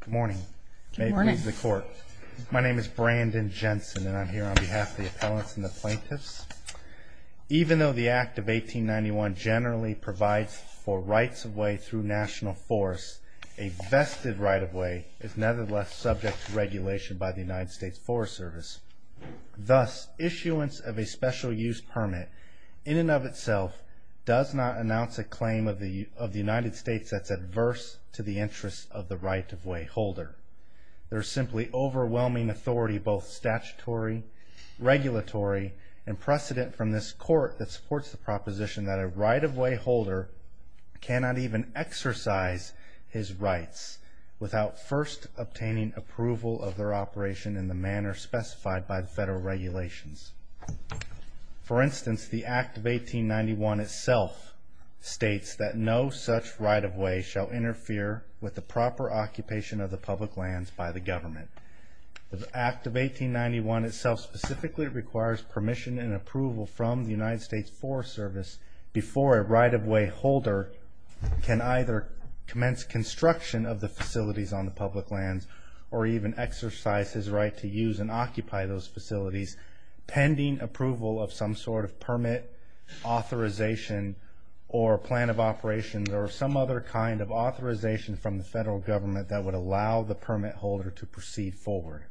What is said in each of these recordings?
Good morning. May it please the court. My name is Brandon Jensen and I'm here on behalf of the appellants and the plaintiffs. Even though the Act of 1891 generally provides for rights-of-way through national forests, a vested right-of-way is nevertheless subject to regulation by the United States Forest Service. Thus, issuance of a special use permit in and of itself does not announce a claim of the United States that's adverse to the interests of the right-of-way holder. There is simply overwhelming authority both statutory, regulatory, and precedent from this court that supports the proposition that a right-of-way holder cannot even exercise his rights without first obtaining approval of their operation in the manner specified by the federal regulations. For instance, the Act of 1891 itself states that no such right-of-way shall interfere with the proper occupation of the public lands by the government. The Act of 1891 itself specifically requires permission and approval from the United States Forest Service before a right-of-way holder can either commence construction of the facilities on the public lands, or even exercise his right to use and occupy those facilities pending approval of some sort of permit, authorization, or plan of operations, or some other kind of authorization from the federal government that would allow the permit holder to proceed forward.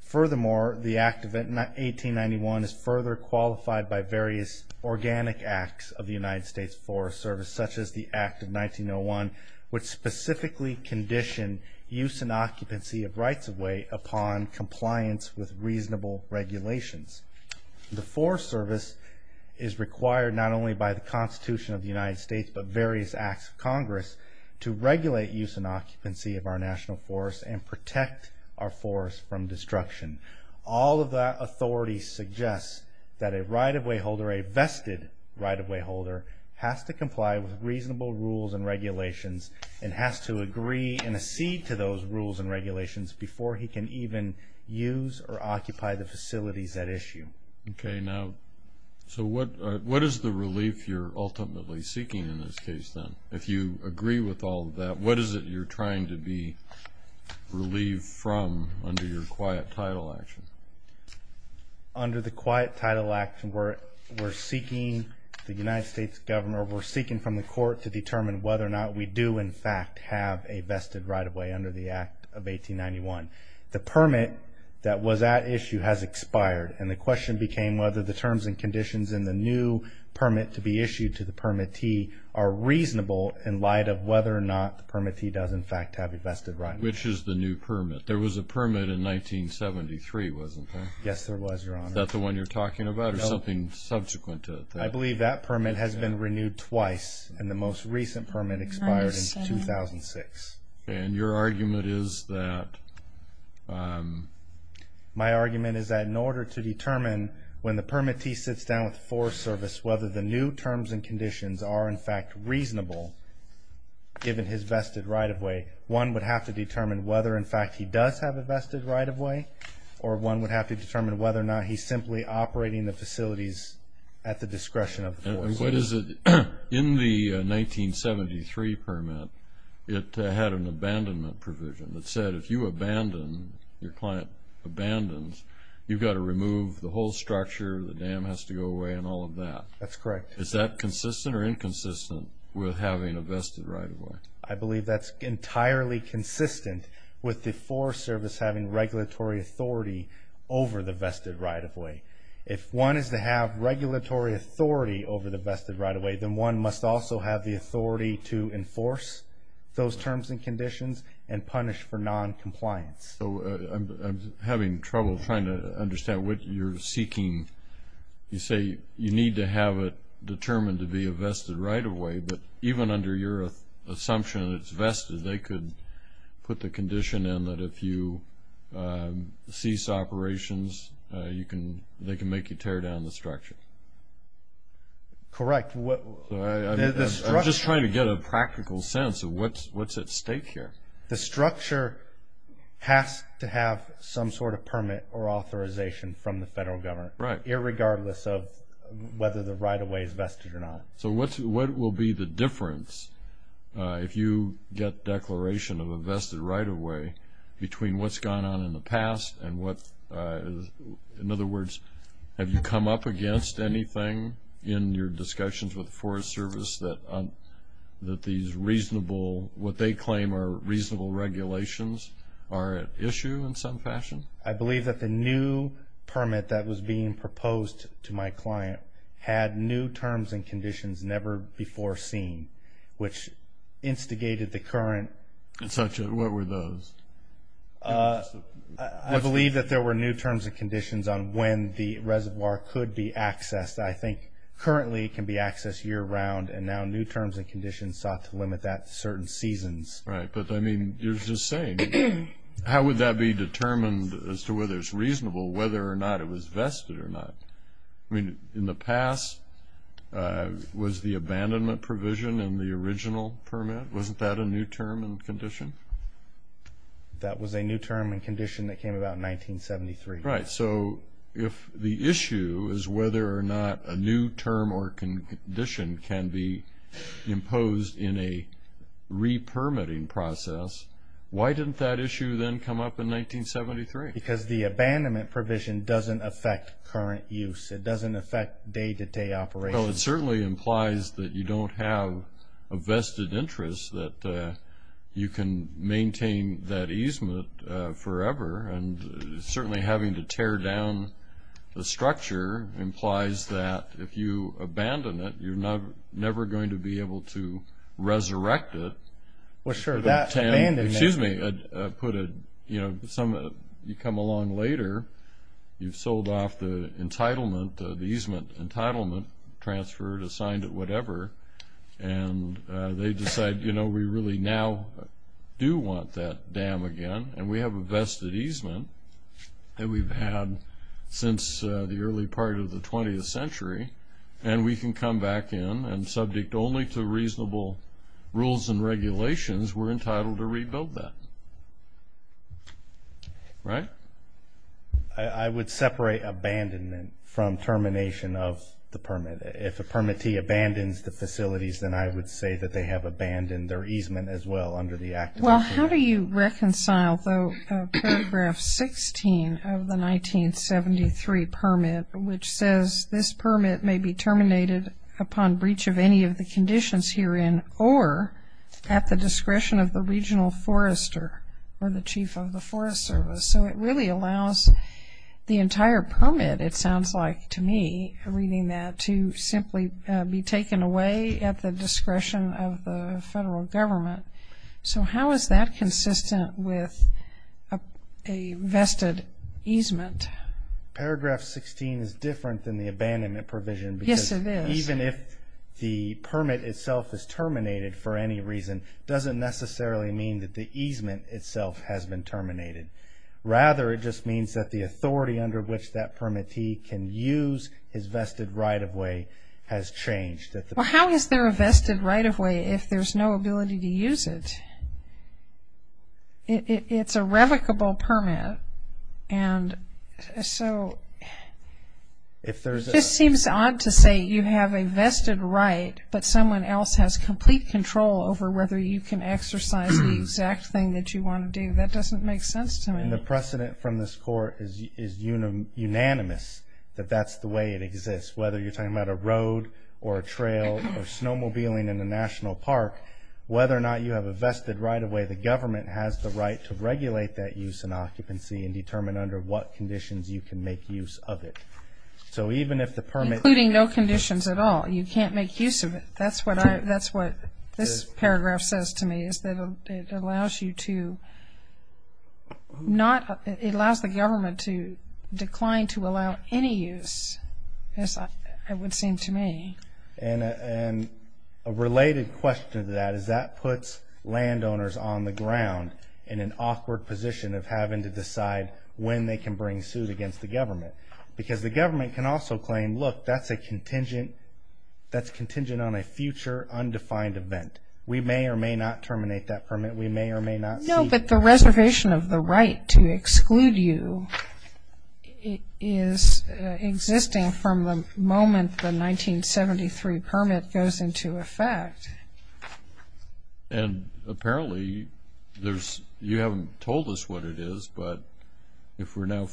Furthermore, the Act of 1891 is further qualified by various organic acts of the United States Forest Service, such as the Act of 1901, which specifically conditioned use and occupancy of rights-of-way upon compliance with reasonable regulations. The Forest Service is required not only by the Constitution of the United States, but various acts of Congress to regulate use and occupancy of our national forests and protect our forests from destruction. All of that authority suggests that a right-of-way holder, a vested right-of-way holder, has to comply with reasonable rules and regulations and has to agree and accede to those rules and regulations before he can even use or occupy the facilities at issue. Okay, now, so what is the relief you're ultimately seeking in this case, then? If you agree with all of that, what is it you're trying to be relieved from under your quiet title action? Under the quiet title action, we're seeking, the United States governor, we're seeking from the court to determine whether or not we do, in fact, have a vested right-of-way under the Act of 1891. The permit that was at issue has expired, and the question became whether the terms and conditions in the new permit to be issued to the permittee are reasonable in light of whether or not the permittee does, in fact, have a vested right-of-way. Which is the new permit? There was a permit in 1973, wasn't there? Yes, there was, Your Honor. Is that the one you're talking about, or something subsequent to it? I believe that permit has been renewed twice, and the most recent permit expired in 2006. And your argument is that... My argument is that in order to determine when the permittee sits down with the Forest Service whether the new terms and conditions are, in fact, reasonable, given his vested right-of-way, one would have to determine whether, in fact, he does have a vested right-of-way, or one would have to determine whether or not he's simply operating the facilities at the discretion of the Forest Service. In the 1973 permit, it had an abandonment provision that said if you abandon, your client abandons, you've got to remove the whole structure, the dam has to go away, and all of that. That's correct. Is that consistent or inconsistent with having a vested right-of-way? I believe that's entirely consistent with the Forest Service having regulatory authority over the vested right-of-way. If one is to have regulatory authority over the vested right-of-way, then one must also have the authority to enforce those terms and conditions and punish for noncompliance. I'm having trouble trying to understand what you're seeking. You say you need to have it determined to be a vested right-of-way, but even under your assumption that it's vested, they could put the condition in that if you cease operations, they can make you tear down the structure. Correct. I'm just trying to get a practical sense of what's at stake here. The structure has to have some sort of permit or authorization from the federal government, irregardless of whether the right-of-way is vested or not. What will be the difference, if you get declaration of a vested right-of-way, between what's gone on in the past and what's... In other words, have you come up against anything in your discussions with the Forest Service that these reasonable, what they claim are reasonable regulations, are at issue in some fashion? I believe that the new permit that was being proposed to my client had new terms and conditions never before seen, which instigated the current... What were those? I believe that there were new terms and conditions on when the reservoir could be accessed. I think currently it can be accessed year-round, and now new terms and conditions sought to limit that to certain seasons. Right, but I mean, you're just saying, how would that be determined as to whether it's reasonable, whether or not it was vested or not? I mean, in the past, was the abandonment provision in the original permit? Wasn't that a new term and condition? That was a new term and condition that came about in 1973. Right, so if the issue is whether or not a new term or condition can be imposed in a re-permitting process, why didn't that issue then come up in 1973? Because the abandonment provision doesn't affect current use. It doesn't affect day-to-day operations. Well, it certainly implies that you don't have a vested interest, that you can maintain that easement forever. And certainly having to tear down the structure implies that if you abandon it, you're never going to be able to resurrect it. Well, sure, that abandonment... Excuse me, you come along later, you've sold off the entitlement, the easement entitlement, transferred, assigned it, whatever, and they decide, you know, we really now do want that dam again, and we have a vested easement that we've had since the early part of the 20th century, and we can come back in, and subject only to reasonable rules and regulations, we're entitled to rebuild that. Right? I would separate abandonment from termination of the permit. If a permittee abandons the facilities, then I would say that they have abandoned their easement as well under the Act of 1973. Well, how do you reconcile, though, Paragraph 16 of the 1973 permit, which says, this permit may be terminated upon breach of any of the conditions herein or at the discretion of the regional forester or the chief of the forest service? So it really allows the entire permit, it sounds like to me, reading that, to simply be taken away at the discretion of the federal government. So how is that consistent with a vested easement? Paragraph 16 is different than the abandonment provision. Yes, it is. Because even if the permit itself is terminated for any reason, it doesn't necessarily mean that the easement itself has been terminated. Rather, it just means that the authority under which that permittee can use his vested right-of-way has changed. Well, how is there a vested right-of-way if there's no ability to use it? It's a revocable permit, and so it just seems odd to say you have a vested right, but someone else has complete control over whether you can exercise the exact thing that you want to do. That doesn't make sense to me. And the precedent from this Court is unanimous that that's the way it exists, whether you're talking about a road or a trail or snowmobiling in a national park, whether or not you have a vested right-of-way, the government has the right to regulate that use and occupancy and determine under what conditions you can make use of it. Including no conditions at all, you can't make use of it. That's what this paragraph says to me, is that it allows the government to decline to allow any use, it would seem to me. And a related question to that is that puts landowners on the ground in an awkward position of having to decide when they can bring suit against the government. Because the government can also claim, look, that's contingent on a future undefined event. We may or may not terminate that permit. No, but the reservation of the right to exclude you is existing from the moment the 1973 permit goes into effect. And apparently you haven't told us what it is, but if we're now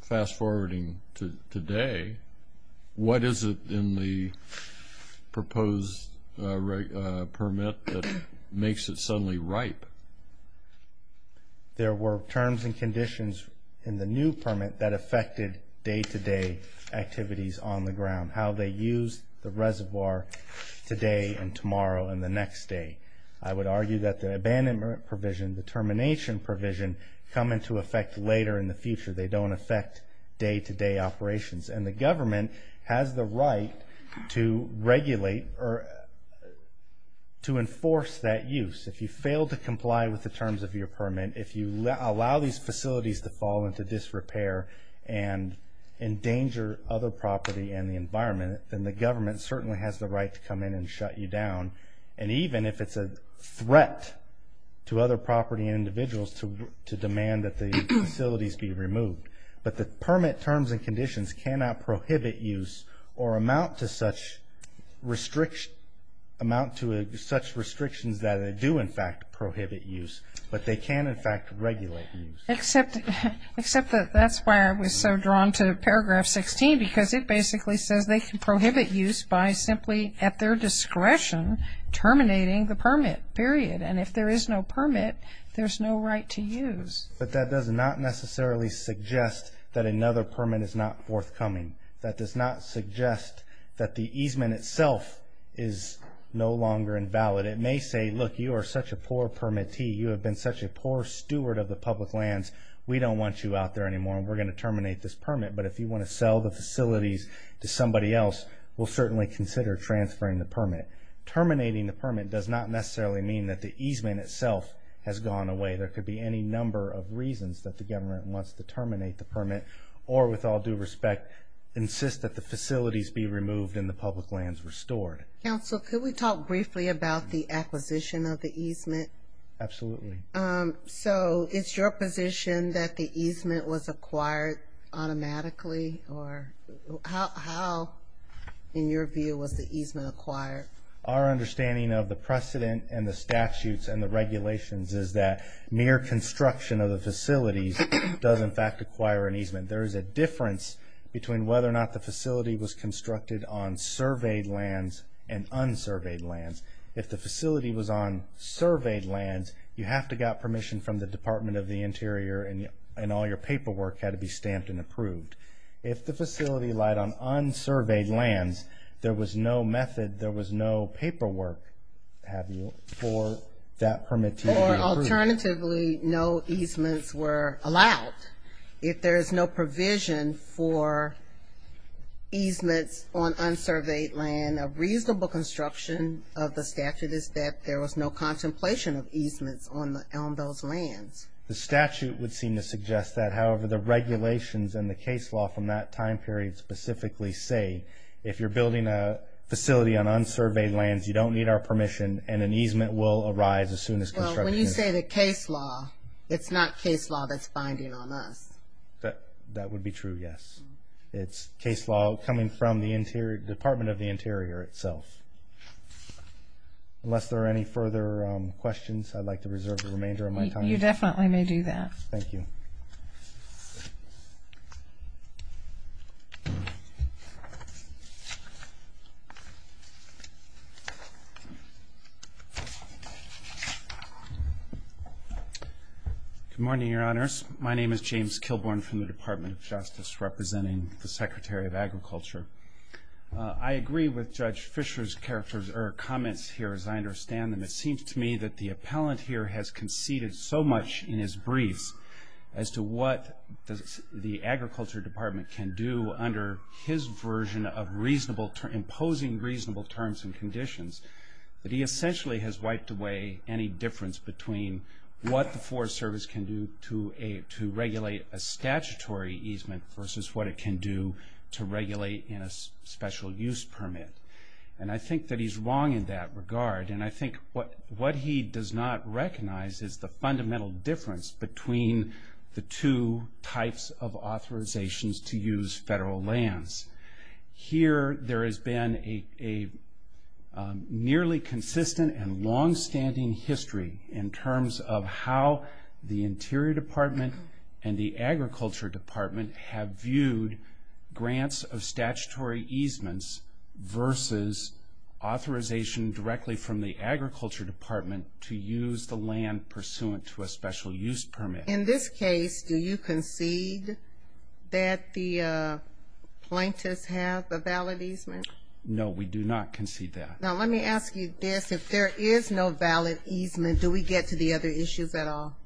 fast-forwarding to today, what is it in the proposed permit that makes it suddenly ripe? There were terms and conditions in the new permit that affected day-to-day activities on the ground, how they used the reservoir today and tomorrow and the next day. I would argue that the abandonment provision, the termination provision, come into effect later in the future. They don't affect day-to-day operations. And the government has the right to regulate or to enforce that use. If you fail to comply with the terms of your permit, if you allow these facilities to fall into disrepair and endanger other property and the environment, then the government certainly has the right to come in and shut you down. And even if it's a threat to other property and individuals to demand that the facilities be removed. But the permit terms and conditions cannot prohibit use or amount to such restrictions that they do, in fact, prohibit use. But they can, in fact, regulate use. Except that that's why I was so drawn to Paragraph 16, because it basically says they can prohibit use by simply, at their discretion, terminating the permit, period. And if there is no permit, there's no right to use. But that does not necessarily suggest that another permit is not forthcoming. That does not suggest that the easement itself is no longer invalid. It may say, look, you are such a poor permittee. You have been such a poor steward of the public lands. We don't want you out there anymore, and we're going to terminate this permit. But if you want to sell the facilities to somebody else, we'll certainly consider transferring the permit. Terminating the permit does not necessarily mean that the easement itself has gone away. There could be any number of reasons that the government wants to terminate the permit or, with all due respect, insist that the facilities be removed and the public lands restored. Counsel, could we talk briefly about the acquisition of the easement? Absolutely. So is your position that the easement was acquired automatically? Or how, in your view, was the easement acquired? Our understanding of the precedent and the statutes and the regulations is that mere construction of the facilities does, in fact, acquire an easement. There is a difference between whether or not the facility was constructed on surveyed lands and unsurveyed lands. If the facility was on surveyed lands, you have to have got permission from the Department of the Interior and all your paperwork had to be stamped and approved. If the facility lied on unsurveyed lands, there was no method, there was no paperwork for that permit to be approved. Or, alternatively, no easements were allowed. If there is no provision for easements on unsurveyed land, then a reasonable construction of the statute is that there was no contemplation of easements on those lands. The statute would seem to suggest that. However, the regulations and the case law from that time period specifically say if you're building a facility on unsurveyed lands, you don't need our permission and an easement will arise as soon as construction is done. Well, when you say the case law, it's not case law that's binding on us. That would be true, yes. It's case law coming from the Department of the Interior itself. Unless there are any further questions, I'd like to reserve the remainder of my time. You definitely may do that. Thank you. Good morning, Your Honors. My name is James Kilborne from the Department of Justice, representing the Secretary of Agriculture. I agree with Judge Fischer's comments here, as I understand them. It seems to me that the appellant here has conceded so much in his briefs as to what the Agriculture Department can do under his version of imposing reasonable terms and conditions that he essentially has wiped away any difference between what the Forest Service can do to regulate a statutory easement versus what it can do to regulate in a special use permit. And I think that he's wrong in that regard. And I think what he does not recognize is the fundamental difference between the two types of authorizations to use federal lands. Here, there has been a nearly consistent and longstanding history in terms of how the Interior Department and the Agriculture Department have viewed grants of statutory easements versus authorization directly from the Agriculture Department to use the land pursuant to a special use permit. In this case, do you concede that the plaintiffs have a valid easement? No, we do not concede that. Now, let me ask you this. If there is no valid easement, do we get to the other issues at all?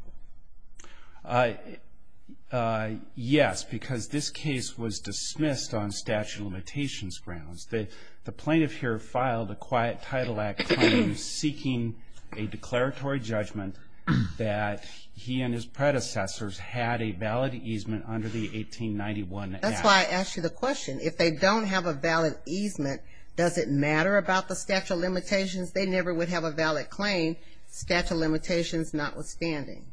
Yes, because this case was dismissed on statute of limitations grounds. The plaintiff here filed a Quiet Title Act claim seeking a declaratory judgment that he and his predecessors had a valid easement under the 1891 Act. That's why I asked you the question. If they don't have a valid easement, does it matter about the statute of limitations? They never would have a valid claim, statute of limitations notwithstanding.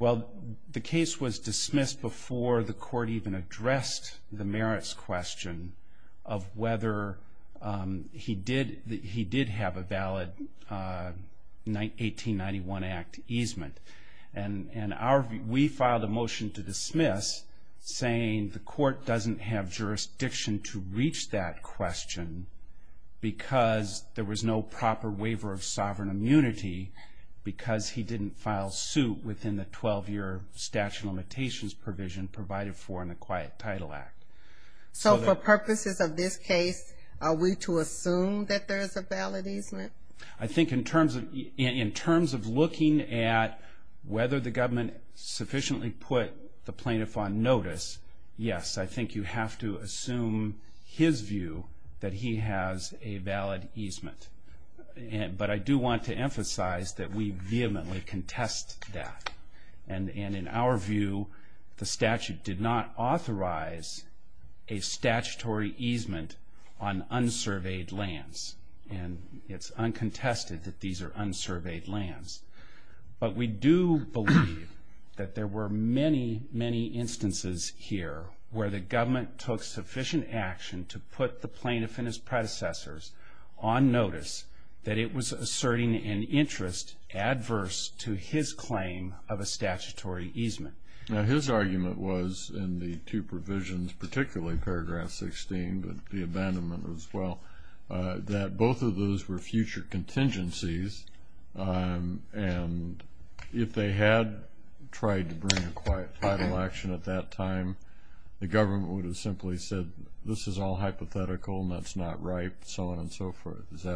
Well, the case was dismissed before the court even addressed the merits question of whether he did have a valid 1891 Act easement. And we filed a motion to dismiss saying the court doesn't have jurisdiction to reach that question because there was no proper waiver of sovereign immunity because he didn't file suit within the 12-year statute of limitations provision provided for in the Quiet Title Act. So for purposes of this case, are we to assume that there is a valid easement? I think in terms of looking at whether the government sufficiently put the plaintiff on notice, yes, I think you have to assume his view that he has a valid easement. But I do want to emphasize that we vehemently contest that. And in our view, the statute did not authorize a statutory easement on unsurveyed lands. And it's uncontested that these are unsurveyed lands. But we do believe that there were many, many instances here where the government took sufficient action to put the plaintiff and his predecessors on notice that it was asserting an interest adverse to his claim of a statutory easement. Now, his argument was in the two provisions, particularly paragraph 16, but the abandonment as well, that both of those were future contingencies. And if they had tried to bring a quiet title action at that time, the government would have simply said this is all hypothetical and that's not right, so on and so forth.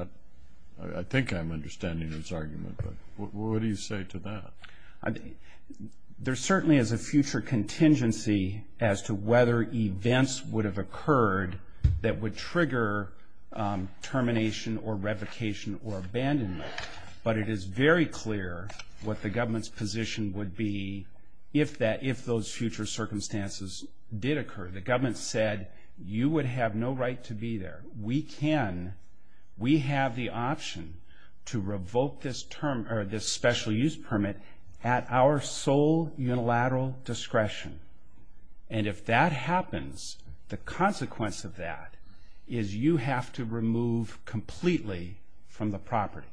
I think I'm understanding his argument, but what do you say to that? There certainly is a future contingency as to whether events would have occurred that would trigger termination or revocation or abandonment. But it is very clear what the government's position would be if those future circumstances did occur. The government said you would have no right to be there. We can, we have the option to revoke this special use permit at our sole unilateral discretion. And if that happens, the consequence of that is you have to remove completely from the property.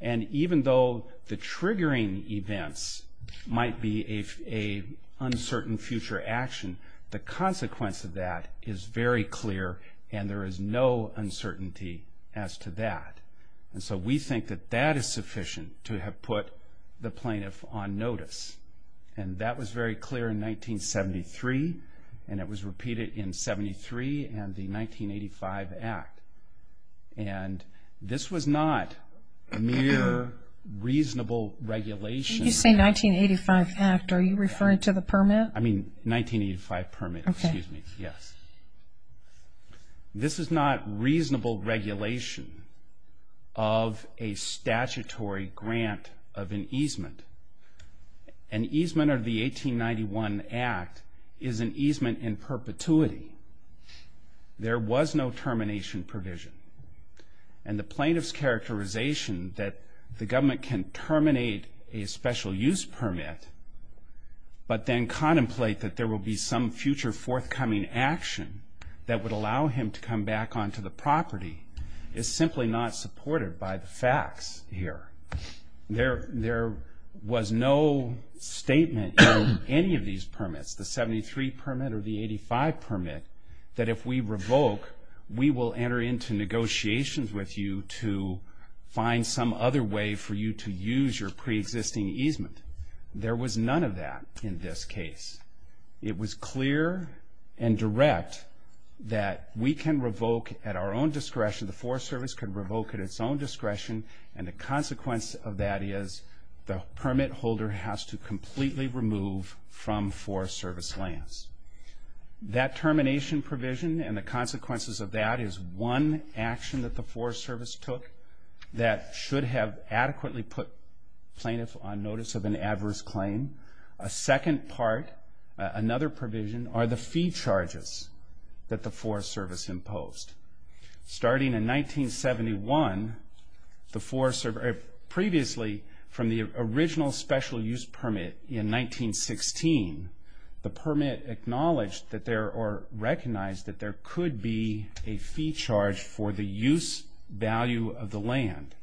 And even though the triggering events might be an uncertain future action, the consequence of that is very clear and there is no uncertainty as to that. And so we think that that is sufficient to have put the plaintiff on notice. And that was very clear in 1973, and it was repeated in 73 and the 1985 Act. And this was not mere reasonable regulation. When you say 1985 Act, are you referring to the permit? I mean 1985 permit, excuse me, yes. This is not reasonable regulation of a statutory grant of an easement. An easement of the 1891 Act is an easement in perpetuity. There was no termination provision. And the plaintiff's characterization that the government can terminate a special use permit but then contemplate that there will be some future forthcoming action that would allow him to come back onto the property is simply not supported by the facts here. There was no statement in any of these permits, the 73 permit or the 85 permit, that if we revoke, we will enter into negotiations with you to find some other way for you to use your preexisting easement. There was none of that in this case. It was clear and direct that we can revoke at our own discretion, the Forest Service can revoke at its own discretion, and the consequence of that is the permit holder has to completely remove from Forest Service lands. That termination provision and the consequences of that is one action that the Forest Service took that should have adequately put plaintiff on notice of an adverse claim. A second part, another provision, are the fee charges that the Forest Service imposed. Starting in 1971, the Forest Service, previously from the original special use permit in 1916, the permit acknowledged that there or recognized that there could be a fee charge for the use value of the land.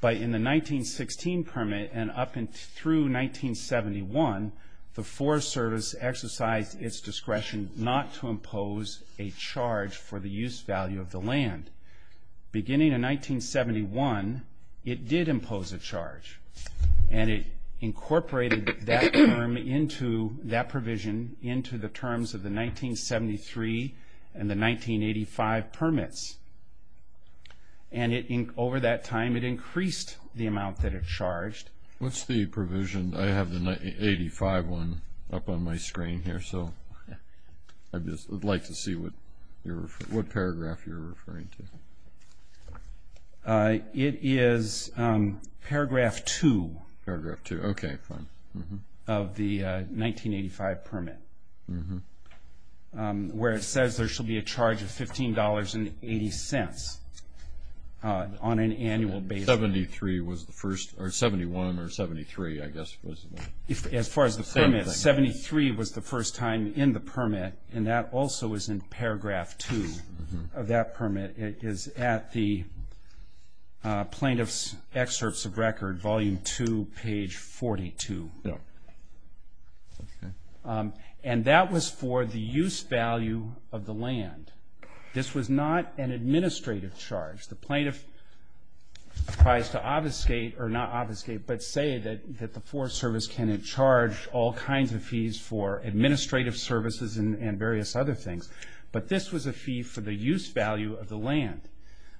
But in the 1916 permit and up through 1971, the Forest Service exercised its discretion not to impose a charge for the use value of the land. Beginning in 1971, it did impose a charge, and it incorporated that provision into the terms of the 1973 and the 1985 permits. And over that time, it increased the amount that it charged. What's the provision? I have the 1985 one up on my screen here, so I'd like to see what paragraph you're referring to. It is paragraph 2. Paragraph 2. Okay, fine. Of the 1985 permit, where it says there shall be a charge of $15.80 on an annual basis. 73 was the first, or 71 or 73, I guess was the same thing. As far as the permit, 73 was the first time in the permit, and that also is in paragraph 2 of that permit. It is at the Plaintiff's Excerpts of Record, Volume 2, page 42. And that was for the use value of the land. This was not an administrative charge. The plaintiff tries to obfuscate, or not obfuscate, but say that the Forest Service can charge all kinds of fees for administrative services and various other things. But this was a fee for the use value of the land.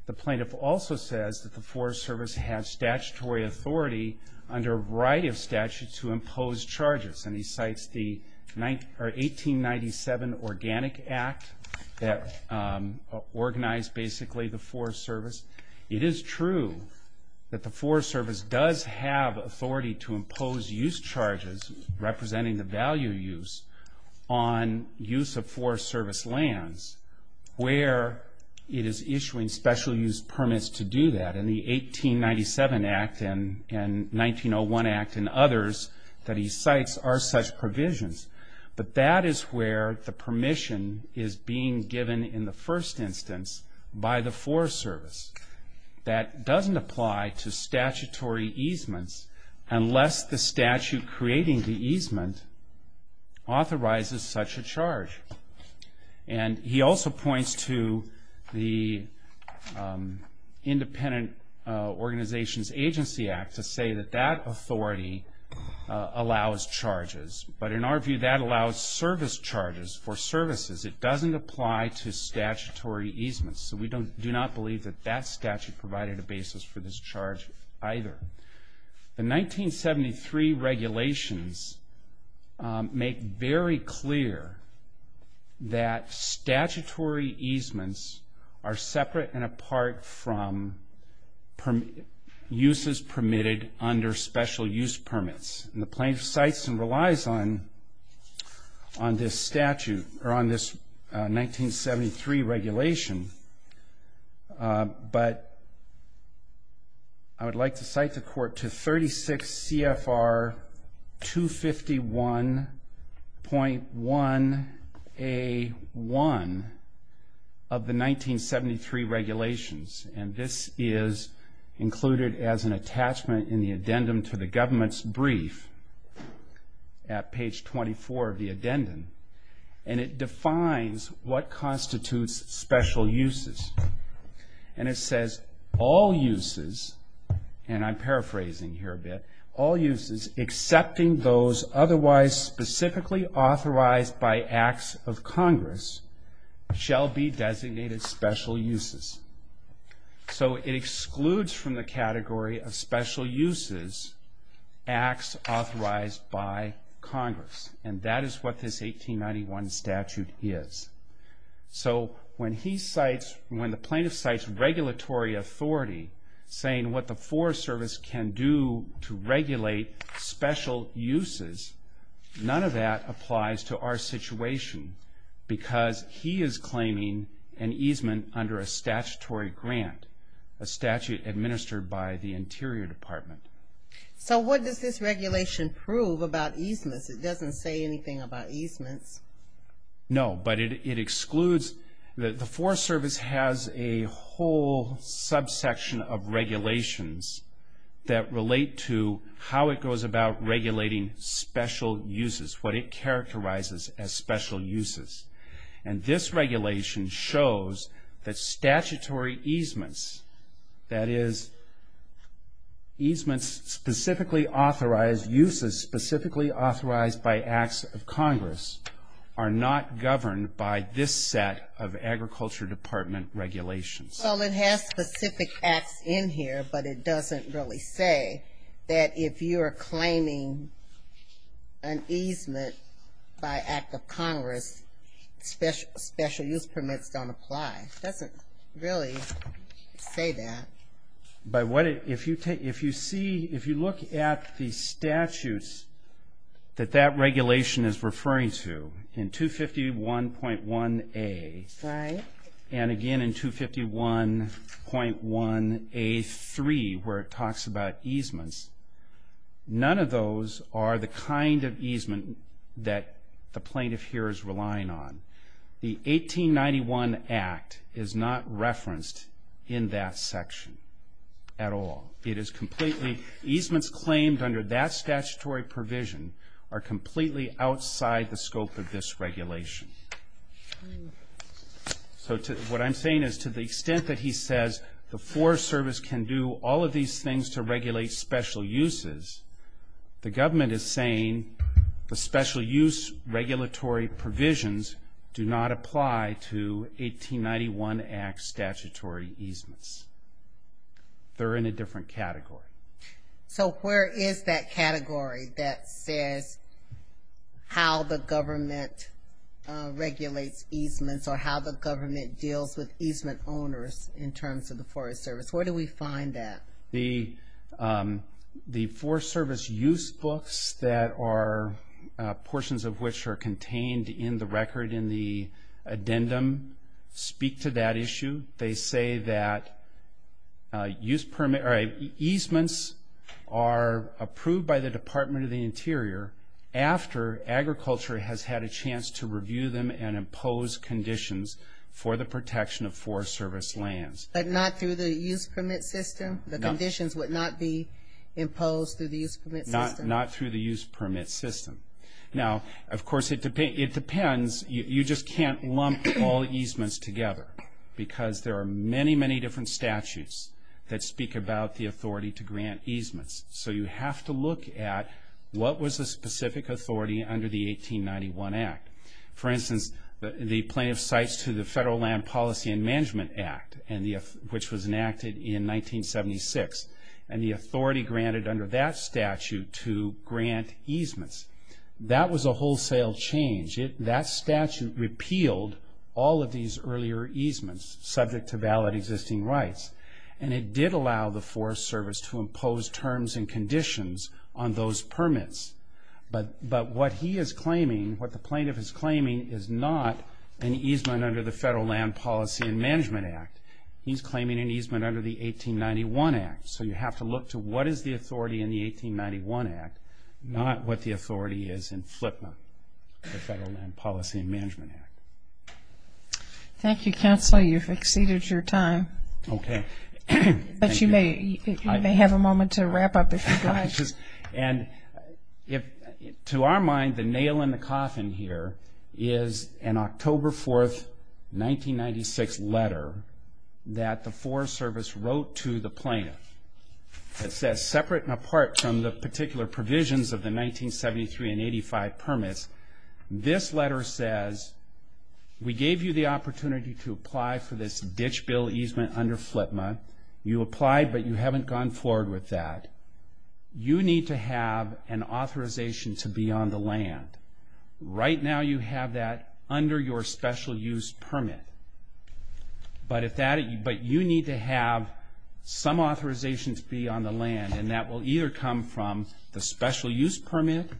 The plaintiff also says that the Forest Service has statutory authority under a variety of statutes to impose charges, and he cites the 1897 Organic Act that organized, basically, the Forest Service. It is true that the Forest Service does have authority to impose use charges, representing the value use, on use of Forest Service lands, where it is issuing special use permits to do that. In the 1897 Act and 1901 Act and others that he cites are such provisions. But that is where the permission is being given, in the first instance, by the Forest Service. That doesn't apply to statutory easements, unless the statute creating the easement authorizes such a charge. And he also points to the Independent Organizations Agency Act to say that that authority allows charges. But in our view, that allows service charges for services. It doesn't apply to statutory easements. So we do not believe that that statute provided a basis for this charge either. The 1973 regulations make very clear that statutory easements are separate and apart from uses permitted under special use permits. And the plaintiff cites and relies on this statute, or on this 1973 regulation. But I would like to cite the court to 36 CFR 251.1A1 of the 1973 regulations. And this is included as an attachment in the addendum to the government's brief at page 24 of the addendum. And it defines what constitutes special uses. And it says, all uses, and I'm paraphrasing here a bit, all uses excepting those otherwise specifically authorized by acts of Congress shall be designated special uses. So it excludes from the category of special uses acts authorized by Congress. And that is what this 1891 statute is. So when the plaintiff cites regulatory authority, saying what the Forest Service can do to regulate special uses, none of that applies to our situation because he is claiming an easement under a statutory grant, a statute administered by the Interior Department. So what does this regulation prove about easements? It doesn't say anything about easements. No, but it excludes the Forest Service has a whole subsection of regulations that relate to how it goes about regulating special uses, what it characterizes as special uses. And this regulation shows that statutory easements, that is easements specifically authorized, uses specifically authorized by acts of Congress, are not governed by this set of Agriculture Department regulations. Well, it has specific acts in here, but it doesn't really say that if you are claiming an easement by act of Congress, special use permits don't apply. It doesn't really say that. If you look at the statutes that that regulation is referring to, in 251.1A and again in 251.1A3 where it talks about easements, none of those are the kind of easement that the plaintiff here is relying on. The 1891 Act is not referenced in that section at all. It is completely, easements claimed under that statutory provision are completely outside the scope of this regulation. So what I'm saying is to the extent that he says the Forest Service can do all of these things to regulate special uses, the government is saying the special use regulatory provisions do not apply to 1891 Act statutory easements. They're in a different category. So where is that category that says how the government regulates easements or how the government deals with easement owners in terms of the Forest Service? Where do we find that? The Forest Service use books that are portions of which are contained in the record in the addendum speak to that issue. They say that easements are approved by the Department of the Interior after agriculture has had a chance to review them and impose conditions for the protection of Forest Service lands. But not through the use permit system? The conditions would not be imposed through the use permit system? Not through the use permit system. Now, of course, it depends. You just can't lump all easements together because there are many, many different statutes that speak about the authority to grant easements. So you have to look at what was the specific authority under the 1891 Act. For instance, the plaintiff cites to the Federal Land Policy and Management Act, which was enacted in 1976, and the authority granted under that statute to grant easements. That was a wholesale change. That statute repealed all of these earlier easements subject to valid existing rights, and it did allow the Forest Service to impose terms and conditions on those permits. But what he is claiming, what the plaintiff is claiming, is not an easement under the Federal Land Policy and Management Act. He's claiming an easement under the 1891 Act. So you have to look to what is the authority in the 1891 Act, not what the authority is in FLPNA, the Federal Land Policy and Management Act. Thank you, Counselor. You've exceeded your time. Okay. But you may have a moment to wrap up if you'd like. And to our mind, the nail in the coffin here is an October 4, 1996 letter that the Forest Service wrote to the plaintiff that says, separate and apart from the particular provisions of the 1973 and 85 permits, this letter says, we gave you the opportunity to apply for this ditch bill easement under FLPNA. You applied, but you haven't gone forward with that. You need to have an authorization to be on the land. Right now you have that under your special use permit. But you need to have some authorization to be on the land, and that will either come from the special use permit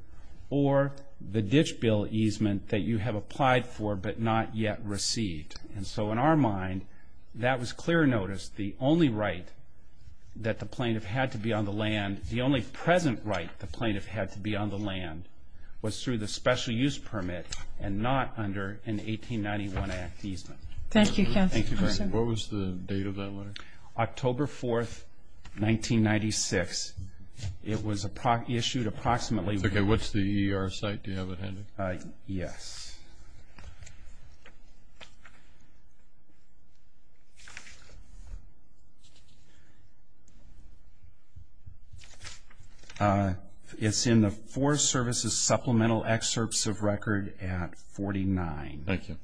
or the ditch bill easement that you have applied for but not yet received. And so in our mind, that was clear notice. The only right that the plaintiff had to be on the land, the only present right the plaintiff had to be on the land, was through the special use permit and not under an 1891 Act easement. Thank you, Counsel. Thank you very much. What was the date of that letter? October 4, 1996. It was issued approximately. Okay, what's the ER site? Do you have it handed? Yes. Okay. It's in the Forest Service's supplemental excerpts of record at 49. Thank you.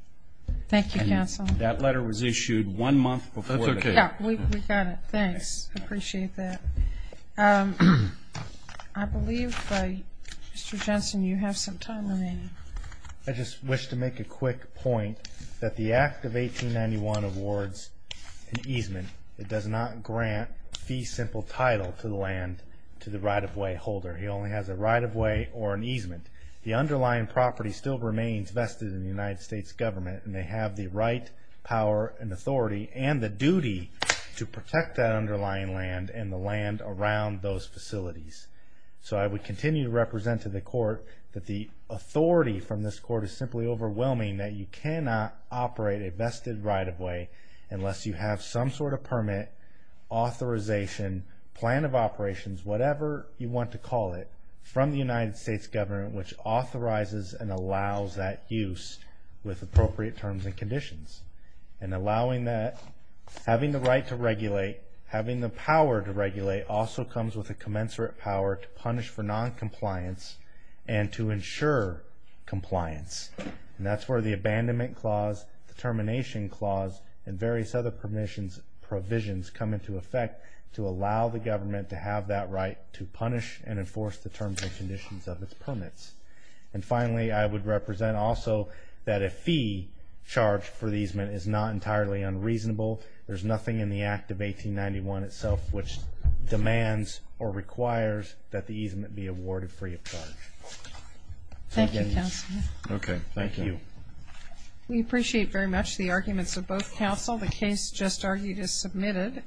Thank you, Counsel. That letter was issued one month before. That's okay. Yeah, we got it. Thanks. I appreciate that. I believe, Mr. Jensen, you have some time remaining. I just wish to make a quick point that the Act of 1891 awards an easement. It does not grant fee simple title to the right-of-way holder. He only has a right-of-way or an easement. The underlying property still remains vested in the United States government, and they have the right, power, and authority, and the duty to protect that underlying land and the land around those facilities. So I would continue to represent to the Court that the authority from this Court is simply overwhelming that you cannot operate a vested right-of-way unless you have some sort of permit, authorization, plan of operations, whatever you want to call it, from the United States government, which authorizes and allows that use with appropriate terms and conditions. And allowing that, having the right to regulate, having the power to regulate, also comes with a commensurate power to punish for noncompliance and to ensure compliance. And that's where the Abandonment Clause, the Termination Clause, and various other provisions come into effect to allow the government to have that right to punish and enforce the terms and conditions of its permits. And finally, I would represent also that a fee charged for the easement is not entirely unreasonable. There's nothing in the Act of 1891 itself which demands or requires that the easement be awarded free of charge. Thank you, Counselor. Okay, thank you. We appreciate very much the arguments of both counsel. The case just argued is submitted.